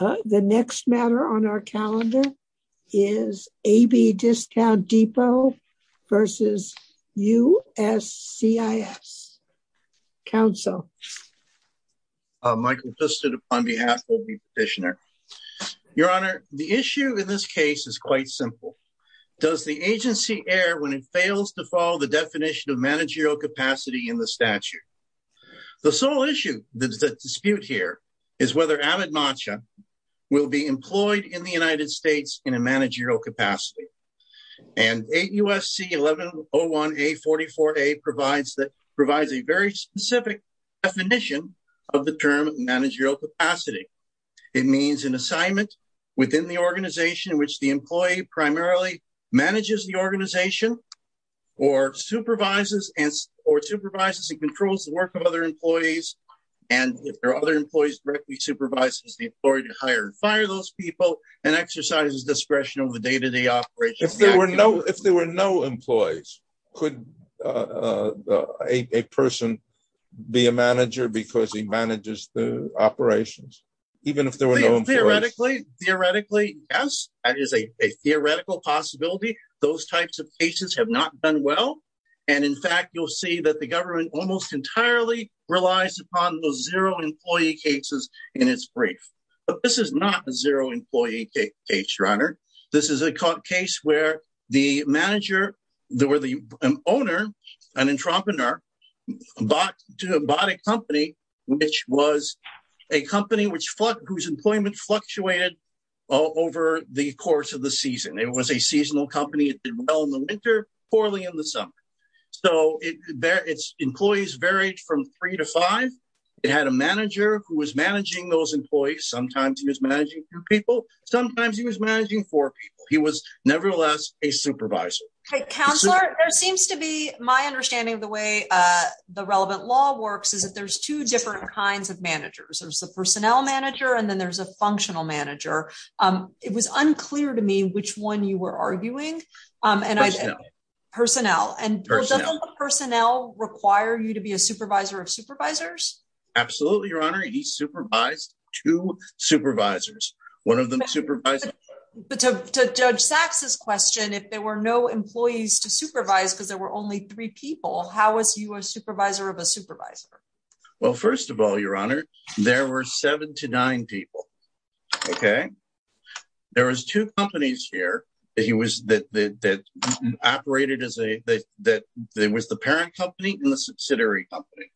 The next matter on our calendar is AB Discount Depot v. USCIS. Council. Michael Piston on behalf of the petitioner. Your Honor, the issue in this case is quite simple. Does the agency err when it fails to follow the definition of managerial capacity in the statute? The sole issue, the dispute here is whether Avid Matcha will be employed in the United States in a managerial capacity. And 8 U.S.C. 1101A44A provides a very specific definition of the term managerial capacity. It means an assignment within the organization in which the employee primarily manages the organization or supervises and or supervises and controls the work of other employees. And if there are other employees directly supervises the employee to hire and fire those people and exercises discretion of the day to day operations. If there were no if there were no employees, could a person be a manager because he manages the operations? Even if there were no theoretically, theoretically, yes, that is a theoretical possibility. Those types of cases have not done well. And in fact, you'll see that the government almost entirely relies upon those zero employee cases in its brief. But this is not a zero employee case runner. This is a case where the manager, the owner, an entrepreneur bought a company, which was a company whose employment fluctuated over the course of the season. It was a seasonal company. It did well in the winter, poorly in the summer. So its employees varied from three to five. It had a manager who was managing those employees. Sometimes he was managing people. Sometimes he was managing for people. He was nevertheless a supervisor. Counselor, there seems to be my understanding of the way the relevant law works is that there's two different kinds of managers. There's the personnel manager and then there's a functional manager. It was unclear to me which one you were arguing. And I know personnel and personnel require you to be a supervisor of supervisors. Absolutely, Your Honor. He supervised two supervisors, one of them supervisor. But to Judge Sachs's question, if there were no employees to supervise because there were only three people, how was he a supervisor of a supervisor? Well, first of all, Your Honor, there were seven to nine people. OK, there was two companies here that he was that operated as a that there was the parent company and the subsidiary company.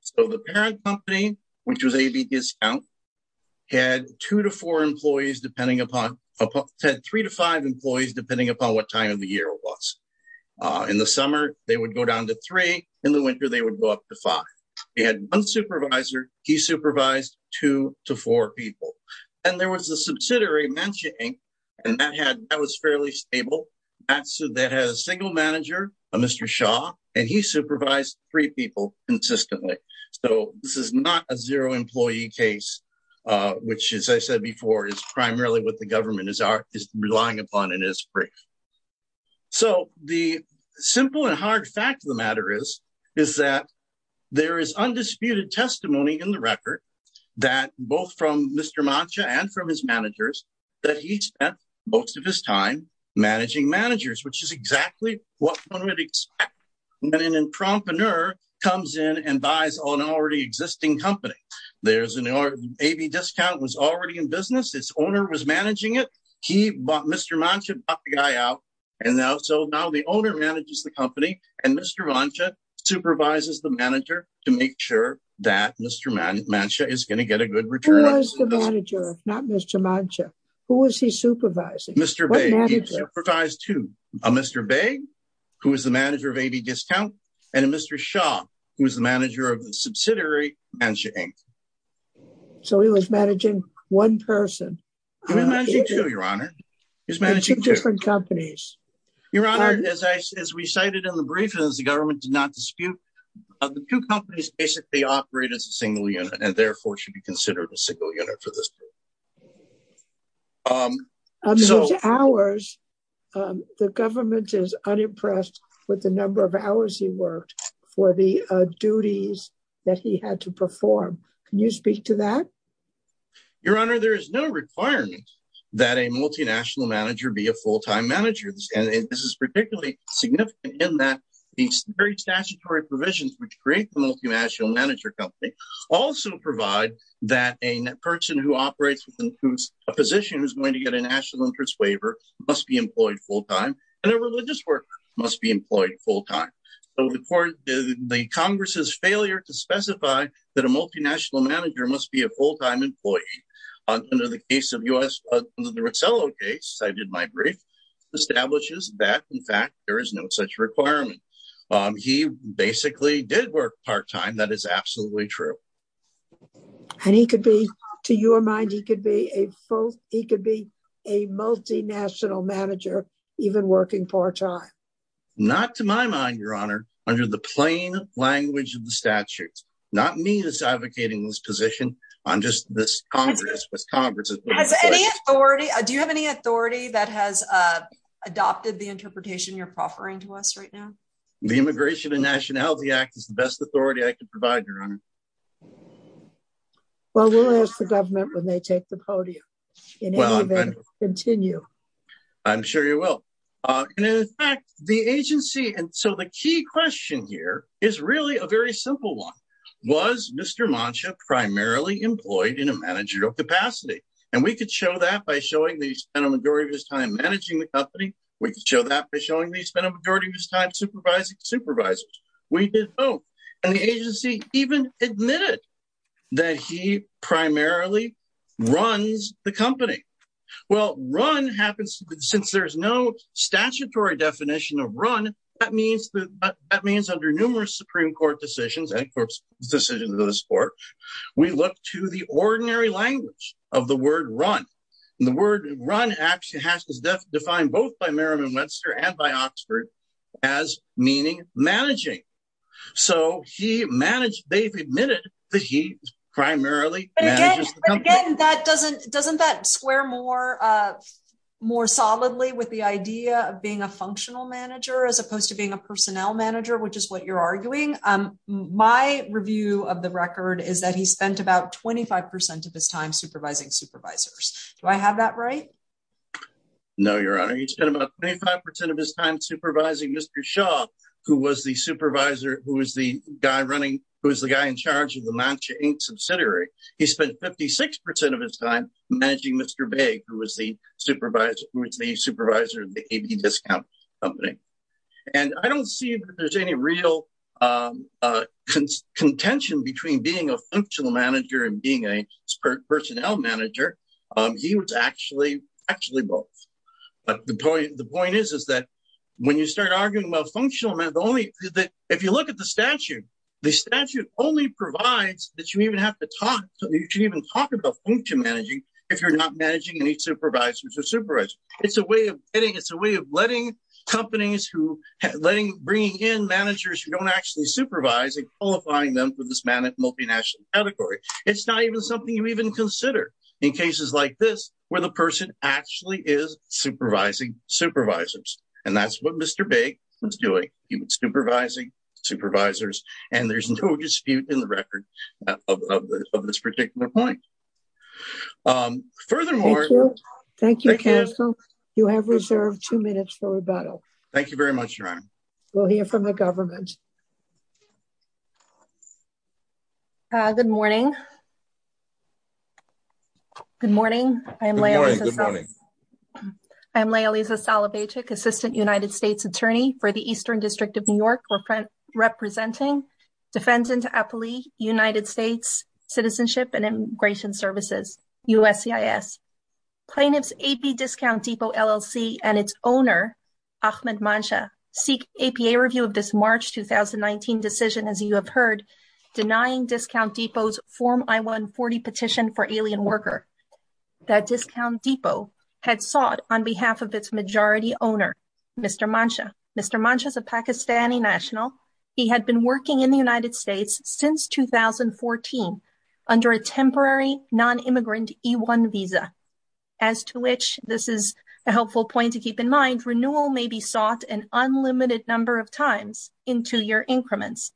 So the parent company, which was AB Discount, had two to four employees, depending upon three to five employees, depending upon what time of the year it was. In the summer, they would go down to three. In the winter, they would go up to five. They had one supervisor. He supervised two to four people. And there was a subsidiary mansion and that had that was fairly stable. So that has single manager, Mr. Shaw, and he supervised three people consistently. So this is not a zero employee case, which, as I said before, is primarily what the government is relying upon and is free. So the simple and hard fact of the matter is, is that there is undisputed testimony in the record that both from Mr. Mancha and from his managers that he spent most of his time managing managers, which is exactly what one would expect. When an entrepreneur comes in and buys on an already existing company, there's an AB Discount was already in business. Its owner was managing it. He bought Mr. Mancha, bought the guy out. And now so now the owner manages the company and Mr. Mancha supervises the manager to make sure that Mr. Mancha is going to get a good return. Who was the manager, not Mr. Mancha? Who was he supervising? Mr. Bay supervise to Mr. Bay, who is the manager of AB Discount and Mr. Shaw, who is the manager of the subsidiary Mancha Inc. So he was managing one person. He was managing two, Your Honor. He was managing two different companies. Your Honor, as we cited in the brief, as the government did not dispute, the two companies basically operate as a single unit and therefore should be considered a single unit for this case. So hours, the government is unimpressed with the number of hours he worked for the duties that he had to perform. Can you speak to that? Your Honor, there is no requirement that a multinational manager be a full time manager. This is particularly significant in that these very statutory provisions which create the multinational manager company also provide that a person who operates with a position is going to get a national interest waiver must be employed full time. And a religious worker must be employed full time. The Congress's failure to specify that a multinational manager must be a full time employee under the case of U.S. Under the Rossello case, I did my brief, establishes that, in fact, there is no such requirement. He basically did work part time. That is absolutely true. And he could be, to your mind, he could be a full, he could be a multinational manager, even working part time. Not to my mind, Your Honor, under the plain language of the statute. Not me that's advocating this position. I'm just this Congress. Has any authority? Do you have any authority that has adopted the interpretation you're offering to us right now? The Immigration and Nationality Act is the best authority I can provide, Your Honor. Well, we'll ask the government when they take the podium. Well, I'm sure you will. And in fact, the agency, and so the key question here is really a very simple one. Was Mr. Mancha primarily employed in a managerial capacity? And we could show that by showing that he spent a majority of his time managing the company. We could show that by showing that he spent a majority of his time supervising supervisors. We did both. And the agency even admitted that he primarily runs the company. Well, run happens, since there's no statutory definition of run, that means under numerous Supreme Court decisions, and of course decisions of this Court, we look to the ordinary language of the word run. And the word run actually has to define both by Merriman-Webster and by Oxford as meaning managing. So he managed, they've admitted that he primarily manages the company. And again, doesn't that square more solidly with the idea of being a functional manager as opposed to being a personnel manager, which is what you're arguing? My review of the record is that he spent about 25% of his time supervising supervisors. Do I have that right? No, Your Honor. He spent about 25% of his time supervising Mr. Shaw, who was the guy in charge of the Mancha Inc. subsidiary. He spent 56% of his time managing Mr. Baig, who was the supervisor of the AB Discount Company. And I don't see that there's any real contention between being a functional manager and being a personnel manager. He was actually both. But the point is that when you start arguing about functional managers, if you look at the statute, the statute only provides that you even have to talk, you can even talk about function managing if you're not managing any supervisors or supervising. It's a way of getting, it's a way of letting companies who, bringing in managers who don't actually supervise and qualifying them for this multinational category. It's not even something you even consider in cases like this, where the person actually is supervising supervisors. And that's what Mr. Baig was doing. He was supervising supervisors. And there's no dispute in the record of this particular point. Furthermore, Thank you, counsel. You have reserved two minutes for rebuttal. Thank you very much, Your Honor. We'll hear from the government. Good morning. Good morning. Good morning. I'm Laila Salavatik, Assistant United States Attorney for the Eastern District of New York, representing Defendant Appley, United States Citizenship and Immigration Services, USCIS. Plaintiff's AP Discount Depot LLC and its owner, Ahmed Mansha, seek APA review of this March 2019 decision, as you have heard, denying Discount Depot's Form I-140 petition for alien worker. That Discount Depot had sought on behalf of its majority owner, Mr. Mansha. Mr. Mansha is a Pakistani national. He had been working in the United States since 2014 under a temporary non-immigrant E-1 visa. As to which, this is a helpful point to keep in mind, renewal may be sought an unlimited number of times in two-year increments.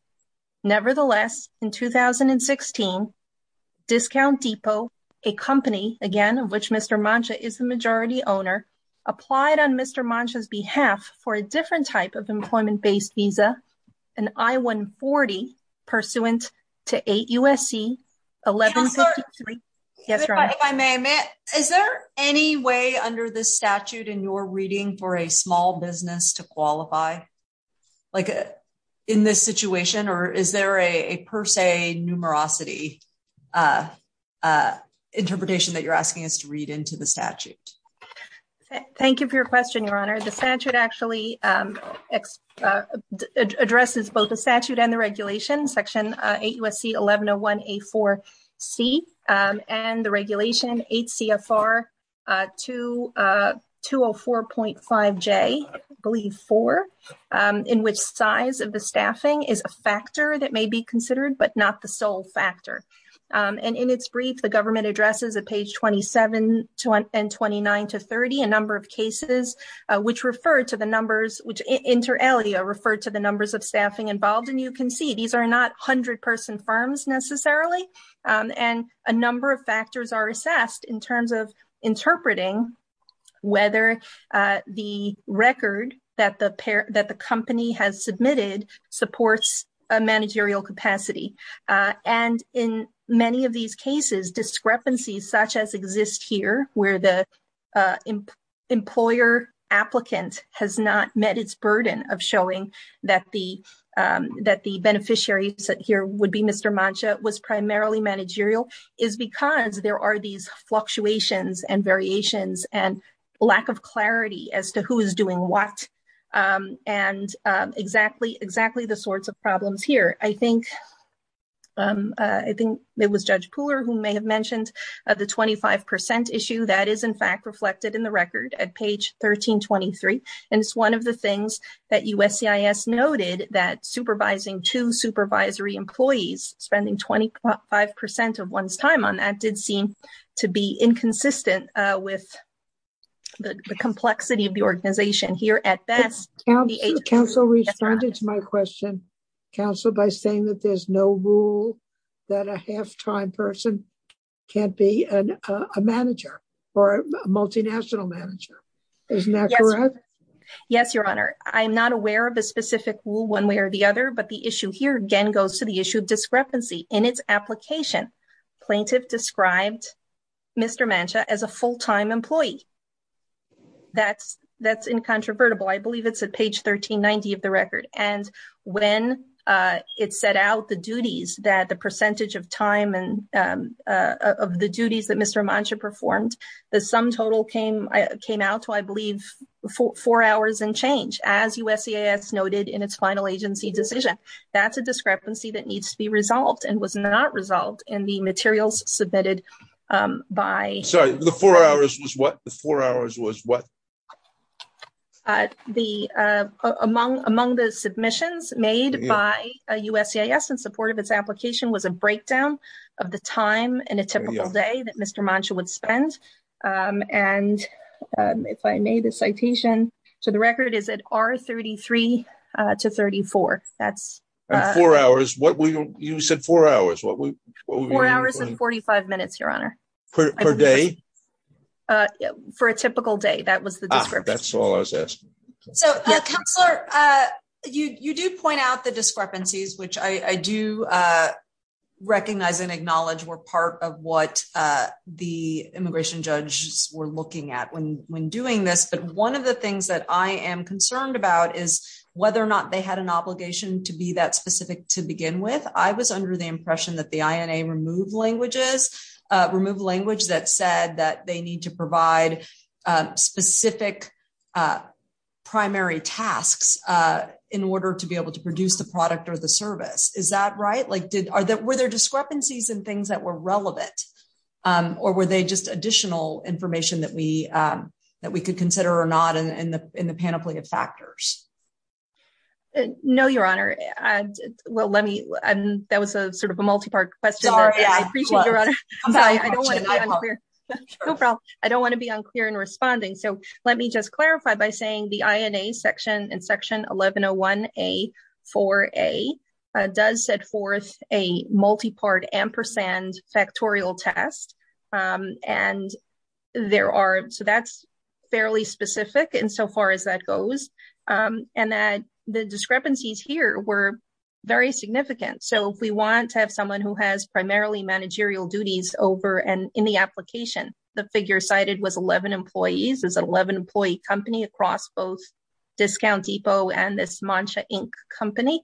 Nevertheless, in 2016, Discount Depot, a company, again, of which Mr. Mansha is the majority owner, applied on Mr. Mansha's behalf for a different type of employment-based visa, an I-140 pursuant to 8 U.S.C. 1153. Counselor. Yes, Your Honor. If I may, is there any way under this statute in your reading for a small business to qualify? Like in this situation, or is there a per se numerosity interpretation that you're asking us to read into the statute? Thank you for your question, Your Honor. The statute actually addresses both the statute and the regulation, Section 8 U.S.C. 1101A4C, and the regulation 8 CFR 204.5J, I believe 4, in which size of the staffing is a factor that may be considered but not the sole factor. And in its brief, the government addresses at page 27 and 29 to 30 a number of cases which refer to the numbers, which inter alia refer to the numbers of staffing involved. And you can see these are not 100-person firms necessarily, and a number of factors are assessed in terms of interpreting whether the record that the company has submitted supports a managerial capacity. And in many of these cases, discrepancies such as exist here, where the employer applicant has not met its burden of showing that the beneficiary here would be Mr. Mancha was primarily managerial, is because there are these fluctuations and variations and lack of clarity as to who is doing what, and exactly the sorts of problems here. I think it was Judge Pooler who may have mentioned the 25% issue. That is, in fact, reflected in the record at page 1323. And it's one of the things that USCIS noted that supervising two supervisory employees, spending 25% of one's time on that did seem to be inconsistent with the complexity of the organization here at best. Counsel responded to my question, Counsel, by saying that there's no rule that a half-time person can't be a manager or a multinational manager. Isn't that correct? Yes, Your Honor. I'm not aware of a specific rule one way or the other, but the issue here again goes to the issue of discrepancy in its application. Plaintiff described Mr. Mancha as a full-time employee. That's incontrovertible. I believe it's at page 1390 of the record. And when it set out the duties that the percentage of time of the duties that Mr. Mancha performed, the sum total came out to, I believe, four hours and change. As USCIS noted in its final agency decision, that's a discrepancy that needs to be resolved and was not resolved in the materials submitted by. The four hours was what? The four hours was what? Among the submissions made by USCIS in support of its application was a breakdown of the time in a typical day that Mr. Mancha would spend. And if I made a citation to the record, is it R33 to 34? That's. Four hours. You said four hours. Four hours and 45 minutes, Your Honor. Per day? For a typical day. That was the discrepancy. That's all I was asking. So, Counselor, you do point out the discrepancies, which I do recognize and acknowledge were part of what the immigration judges were looking at when doing this. But one of the things that I am concerned about is whether or not they had an obligation to be that specific to begin with. I was under the impression that the INA removed languages that said that they need to provide specific primary tasks in order to be able to produce the product or the service. Is that right? Were there discrepancies in things that were relevant? Or were they just additional information that we could consider or not in the panoply of factors? No, Your Honor. That was sort of a multi-part question. I don't want to be unclear in responding. So let me just clarify by saying the INA section in section 1101A4A does set forth a multi-part ampersand factorial test. So that's fairly specific insofar as that goes. And that the discrepancies here were very significant. So if we want to have someone who has primarily managerial duties over and in the application, the figure cited was 11 employees. There's an 11-employee company across both Discount Depot and this Mancha, Inc. company.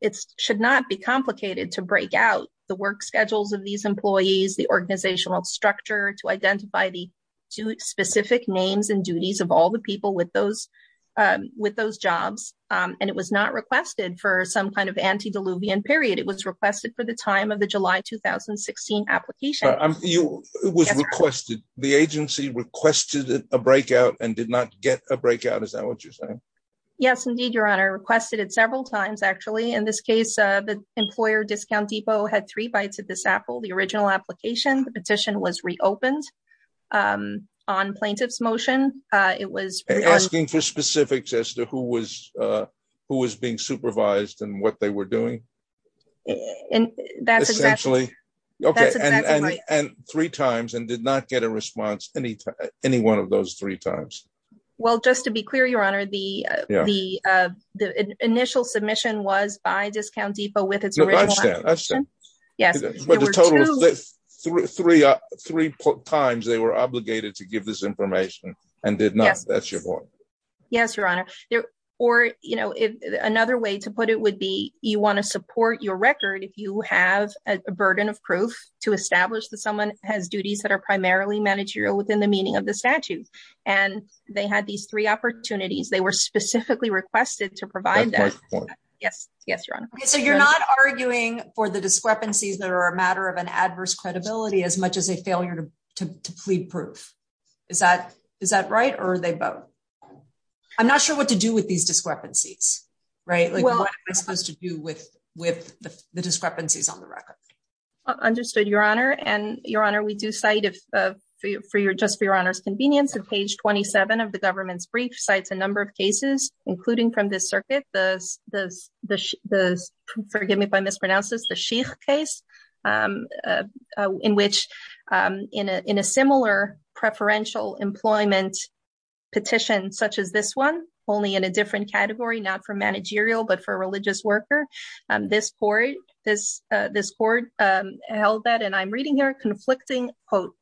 It should not be complicated to break out the work schedules of these employees, the organizational structure, to identify the specific names and duties of all the people with those jobs. And it was not requested for some kind of antediluvian period. It was requested for the time of the July 2016 application. It was requested. The agency requested a breakout and did not get a breakout. Is that what you're saying? Yes, indeed, Your Honor. I requested it several times, actually. In this case, the employer, Discount Depot, had three bites at this apple. The original application, the petition was reopened on plaintiff's motion. Asking for specifics as to who was being supervised and what they were doing? That's exactly right. And three times and did not get a response any one of those three times. Well, just to be clear, Your Honor, the initial submission was by Discount Depot with its original application. I understand. Yes. But the total of three times they were obligated to give this information and did not. That's your point. Yes, Your Honor. Or, you know, another way to put it would be you want to support your record if you have a burden of proof to establish that someone has duties that are primarily managerial within the meaning of the statute. And they had these three opportunities. They were specifically requested to provide that. Yes. Yes, Your Honor. So you're not arguing for the discrepancies that are a matter of an adverse credibility as much as a failure to plead proof. Is that is that right? Or are they both? I'm not sure what to do with these discrepancies. Right. What am I supposed to do with the discrepancies on the record? Understood, Your Honor. And, Your Honor, we do cite, just for Your Honor's convenience, on page 27 of the government's brief, cites a number of cases, including from this circuit, forgive me if I mispronounce this, the Sheik case, in which in a similar preferential employment petition such as this one, only in a different category, not for managerial but for a religious worker. This court held that, and I'm reading here, conflicting, quote,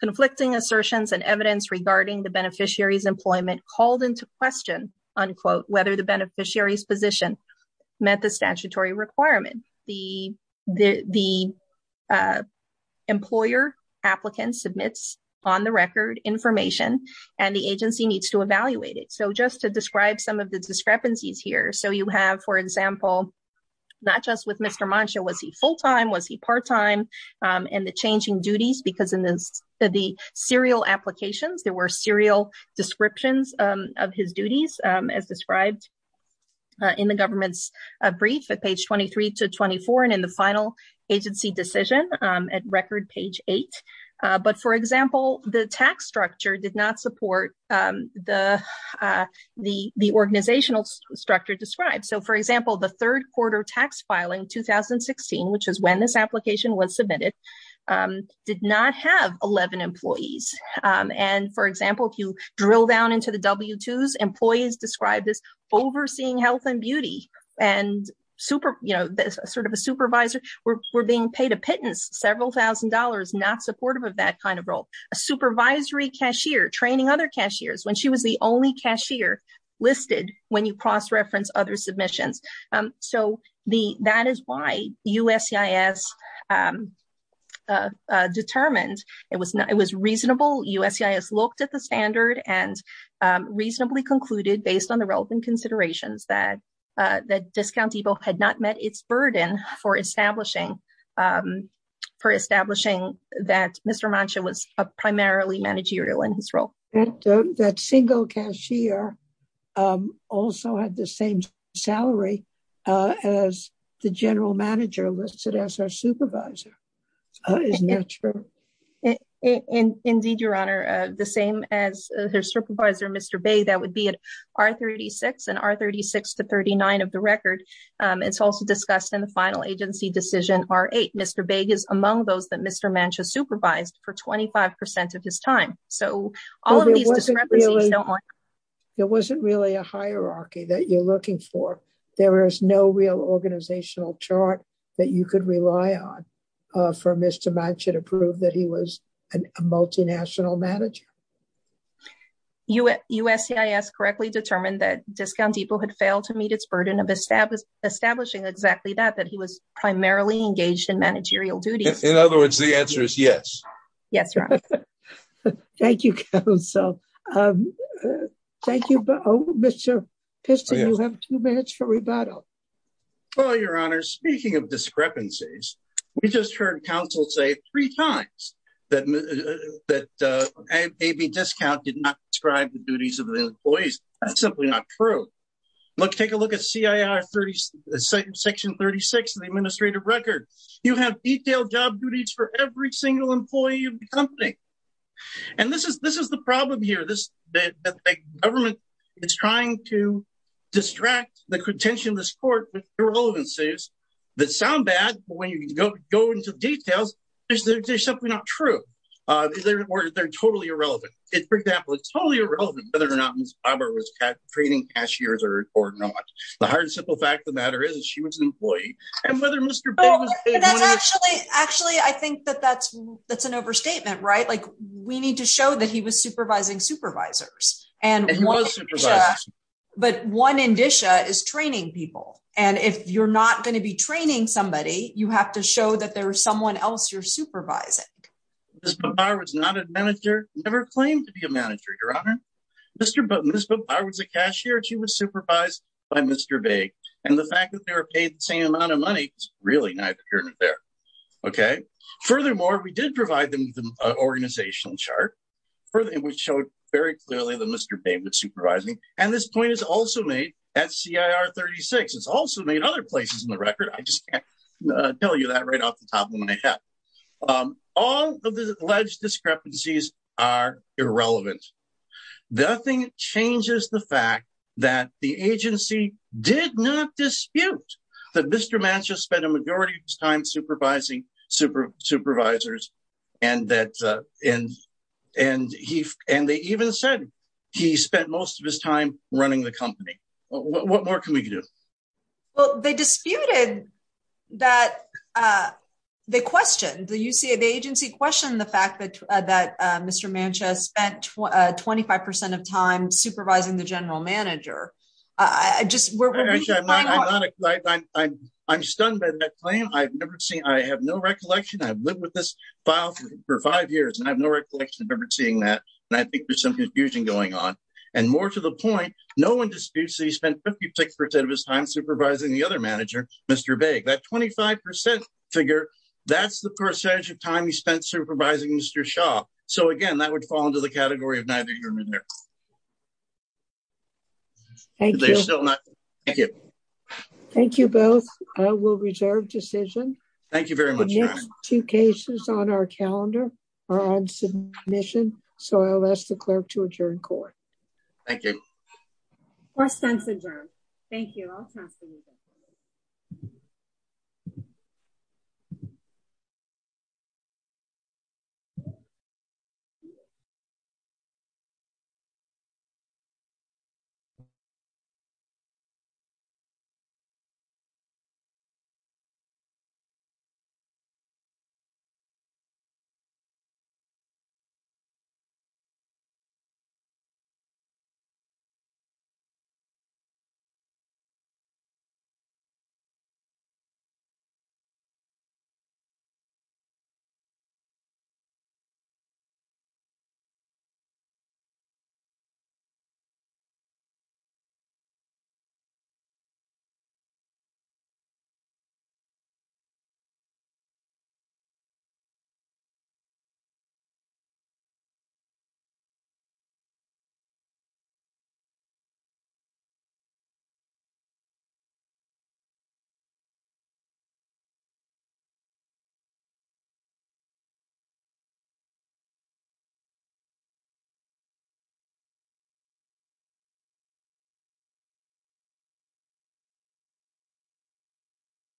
conflicting assertions and evidence regarding the beneficiary's employment called into question, unquote, whether the beneficiary's position met the statutory requirement. The employer applicant submits on the record information, and the agency needs to evaluate it. So just to describe some of the discrepancies here. So you have, for example, not just with Mr. Mancha, was he full time? Was he part time? And the changing duties, because in the serial applications, there were serial descriptions of his duties, as described in the government's brief at page 23 to 24, and in the final agency decision at record page 8. But for example, the tax structure did not support the organizational structure described. So for example, the third quarter tax filing 2016, which is when this application was submitted, did not have 11 employees. And for example, if you drill down into the W-2s, employees described as overseeing health and beauty, and sort of a supervisor, were being paid a pittance, several thousand dollars, not supportive of that kind of role. A supervisory cashier training other cashiers when she was the only cashier listed when you cross-reference other submissions. So that is why USCIS determined it was reasonable. USCIS looked at the standard and reasonably concluded, based on the relevant considerations, that Discount Depot had not met its burden for establishing that Mr. Mancha was primarily managerial in his role. That single cashier also had the same salary as the general manager listed as her supervisor. Isn't that true? Indeed, Your Honor. The same as her supervisor, Mr. Bay, that would be at R-36 and R-36 to 39 of the record. It's also discussed in the final agency decision R-8. Mr. Bay is among those that Mr. Mancha supervised for 25% of his time. It wasn't really a hierarchy that you're looking for. There is no real organizational chart that you could rely on for Mr. Mancha to prove that he was a multinational manager. USCIS correctly determined that Discount Depot had failed to meet its burden of establishing exactly that, that he was primarily engaged in managerial duties. In other words, the answer is yes. Yes, Your Honor. Thank you, Counsel. Thank you. Mr. Piston, you have two minutes for rebuttal. Well, Your Honor, speaking of discrepancies, we just heard counsel say three times that AB Discount did not describe the duties of the employees. That's simply not true. Look, take a look at CIR section 36 of the administrative record. You have detailed job duties for every single employee of the company. And this is the problem here. The government is trying to distract the attention of this court with irrelevances that sound bad, but when you go into details, they're simply not true. They're totally irrelevant. For example, it's totally irrelevant whether or not Ms. Bavar was training cashiers or not. The hard and simple fact of the matter is that she was an employee. And whether Mr. Bavar... Actually, I think that that's an overstatement, right? Like, we need to show that he was supervising supervisors. And he was supervising. But one indicia is training people. And if you're not going to be training somebody, you have to show that there's someone else you're supervising. Ms. Bavar was not a manager. Never claimed to be a manager, Your Honor. Ms. Bavar was a cashier. She was supervised by Mr. Bavar. And the fact that they were paid the same amount of money is really neither here nor there. Okay? Furthermore, we did provide them with an organizational chart, which showed very clearly that Mr. Bavar was supervising. And this point is also made at CIR 36. It's also made other places in the record. I just can't tell you that right off the top of my head. All of the alleged discrepancies are irrelevant. Nothing changes the fact that the agency did not dispute that Mr. Mancha spent a majority of his time supervising supervisors. And they even said he spent most of his time running the company. What more can we do? Well, they disputed that they questioned. The agency questioned the fact that Mr. Mancha spent 25% of time supervising the general manager. I'm stunned by that claim. I have no recollection. I've lived with this file for five years, and I have no recollection of ever seeing that. And I think there's some confusion going on. And more to the point, no one disputes that he spent 56% of his time supervising the other manager, Mr. Bague. That 25% figure, that's the percentage of time he spent supervising Mr. Shaw. So, again, that would fall into the category of neither here nor there. Thank you. Thank you. Thank you both. I will reserve decision. Thank you very much. Two cases on our calendar are on submission. So I'll ask the clerk to adjourn court. Court is adjourned. Thank you. Thank you. Thank you.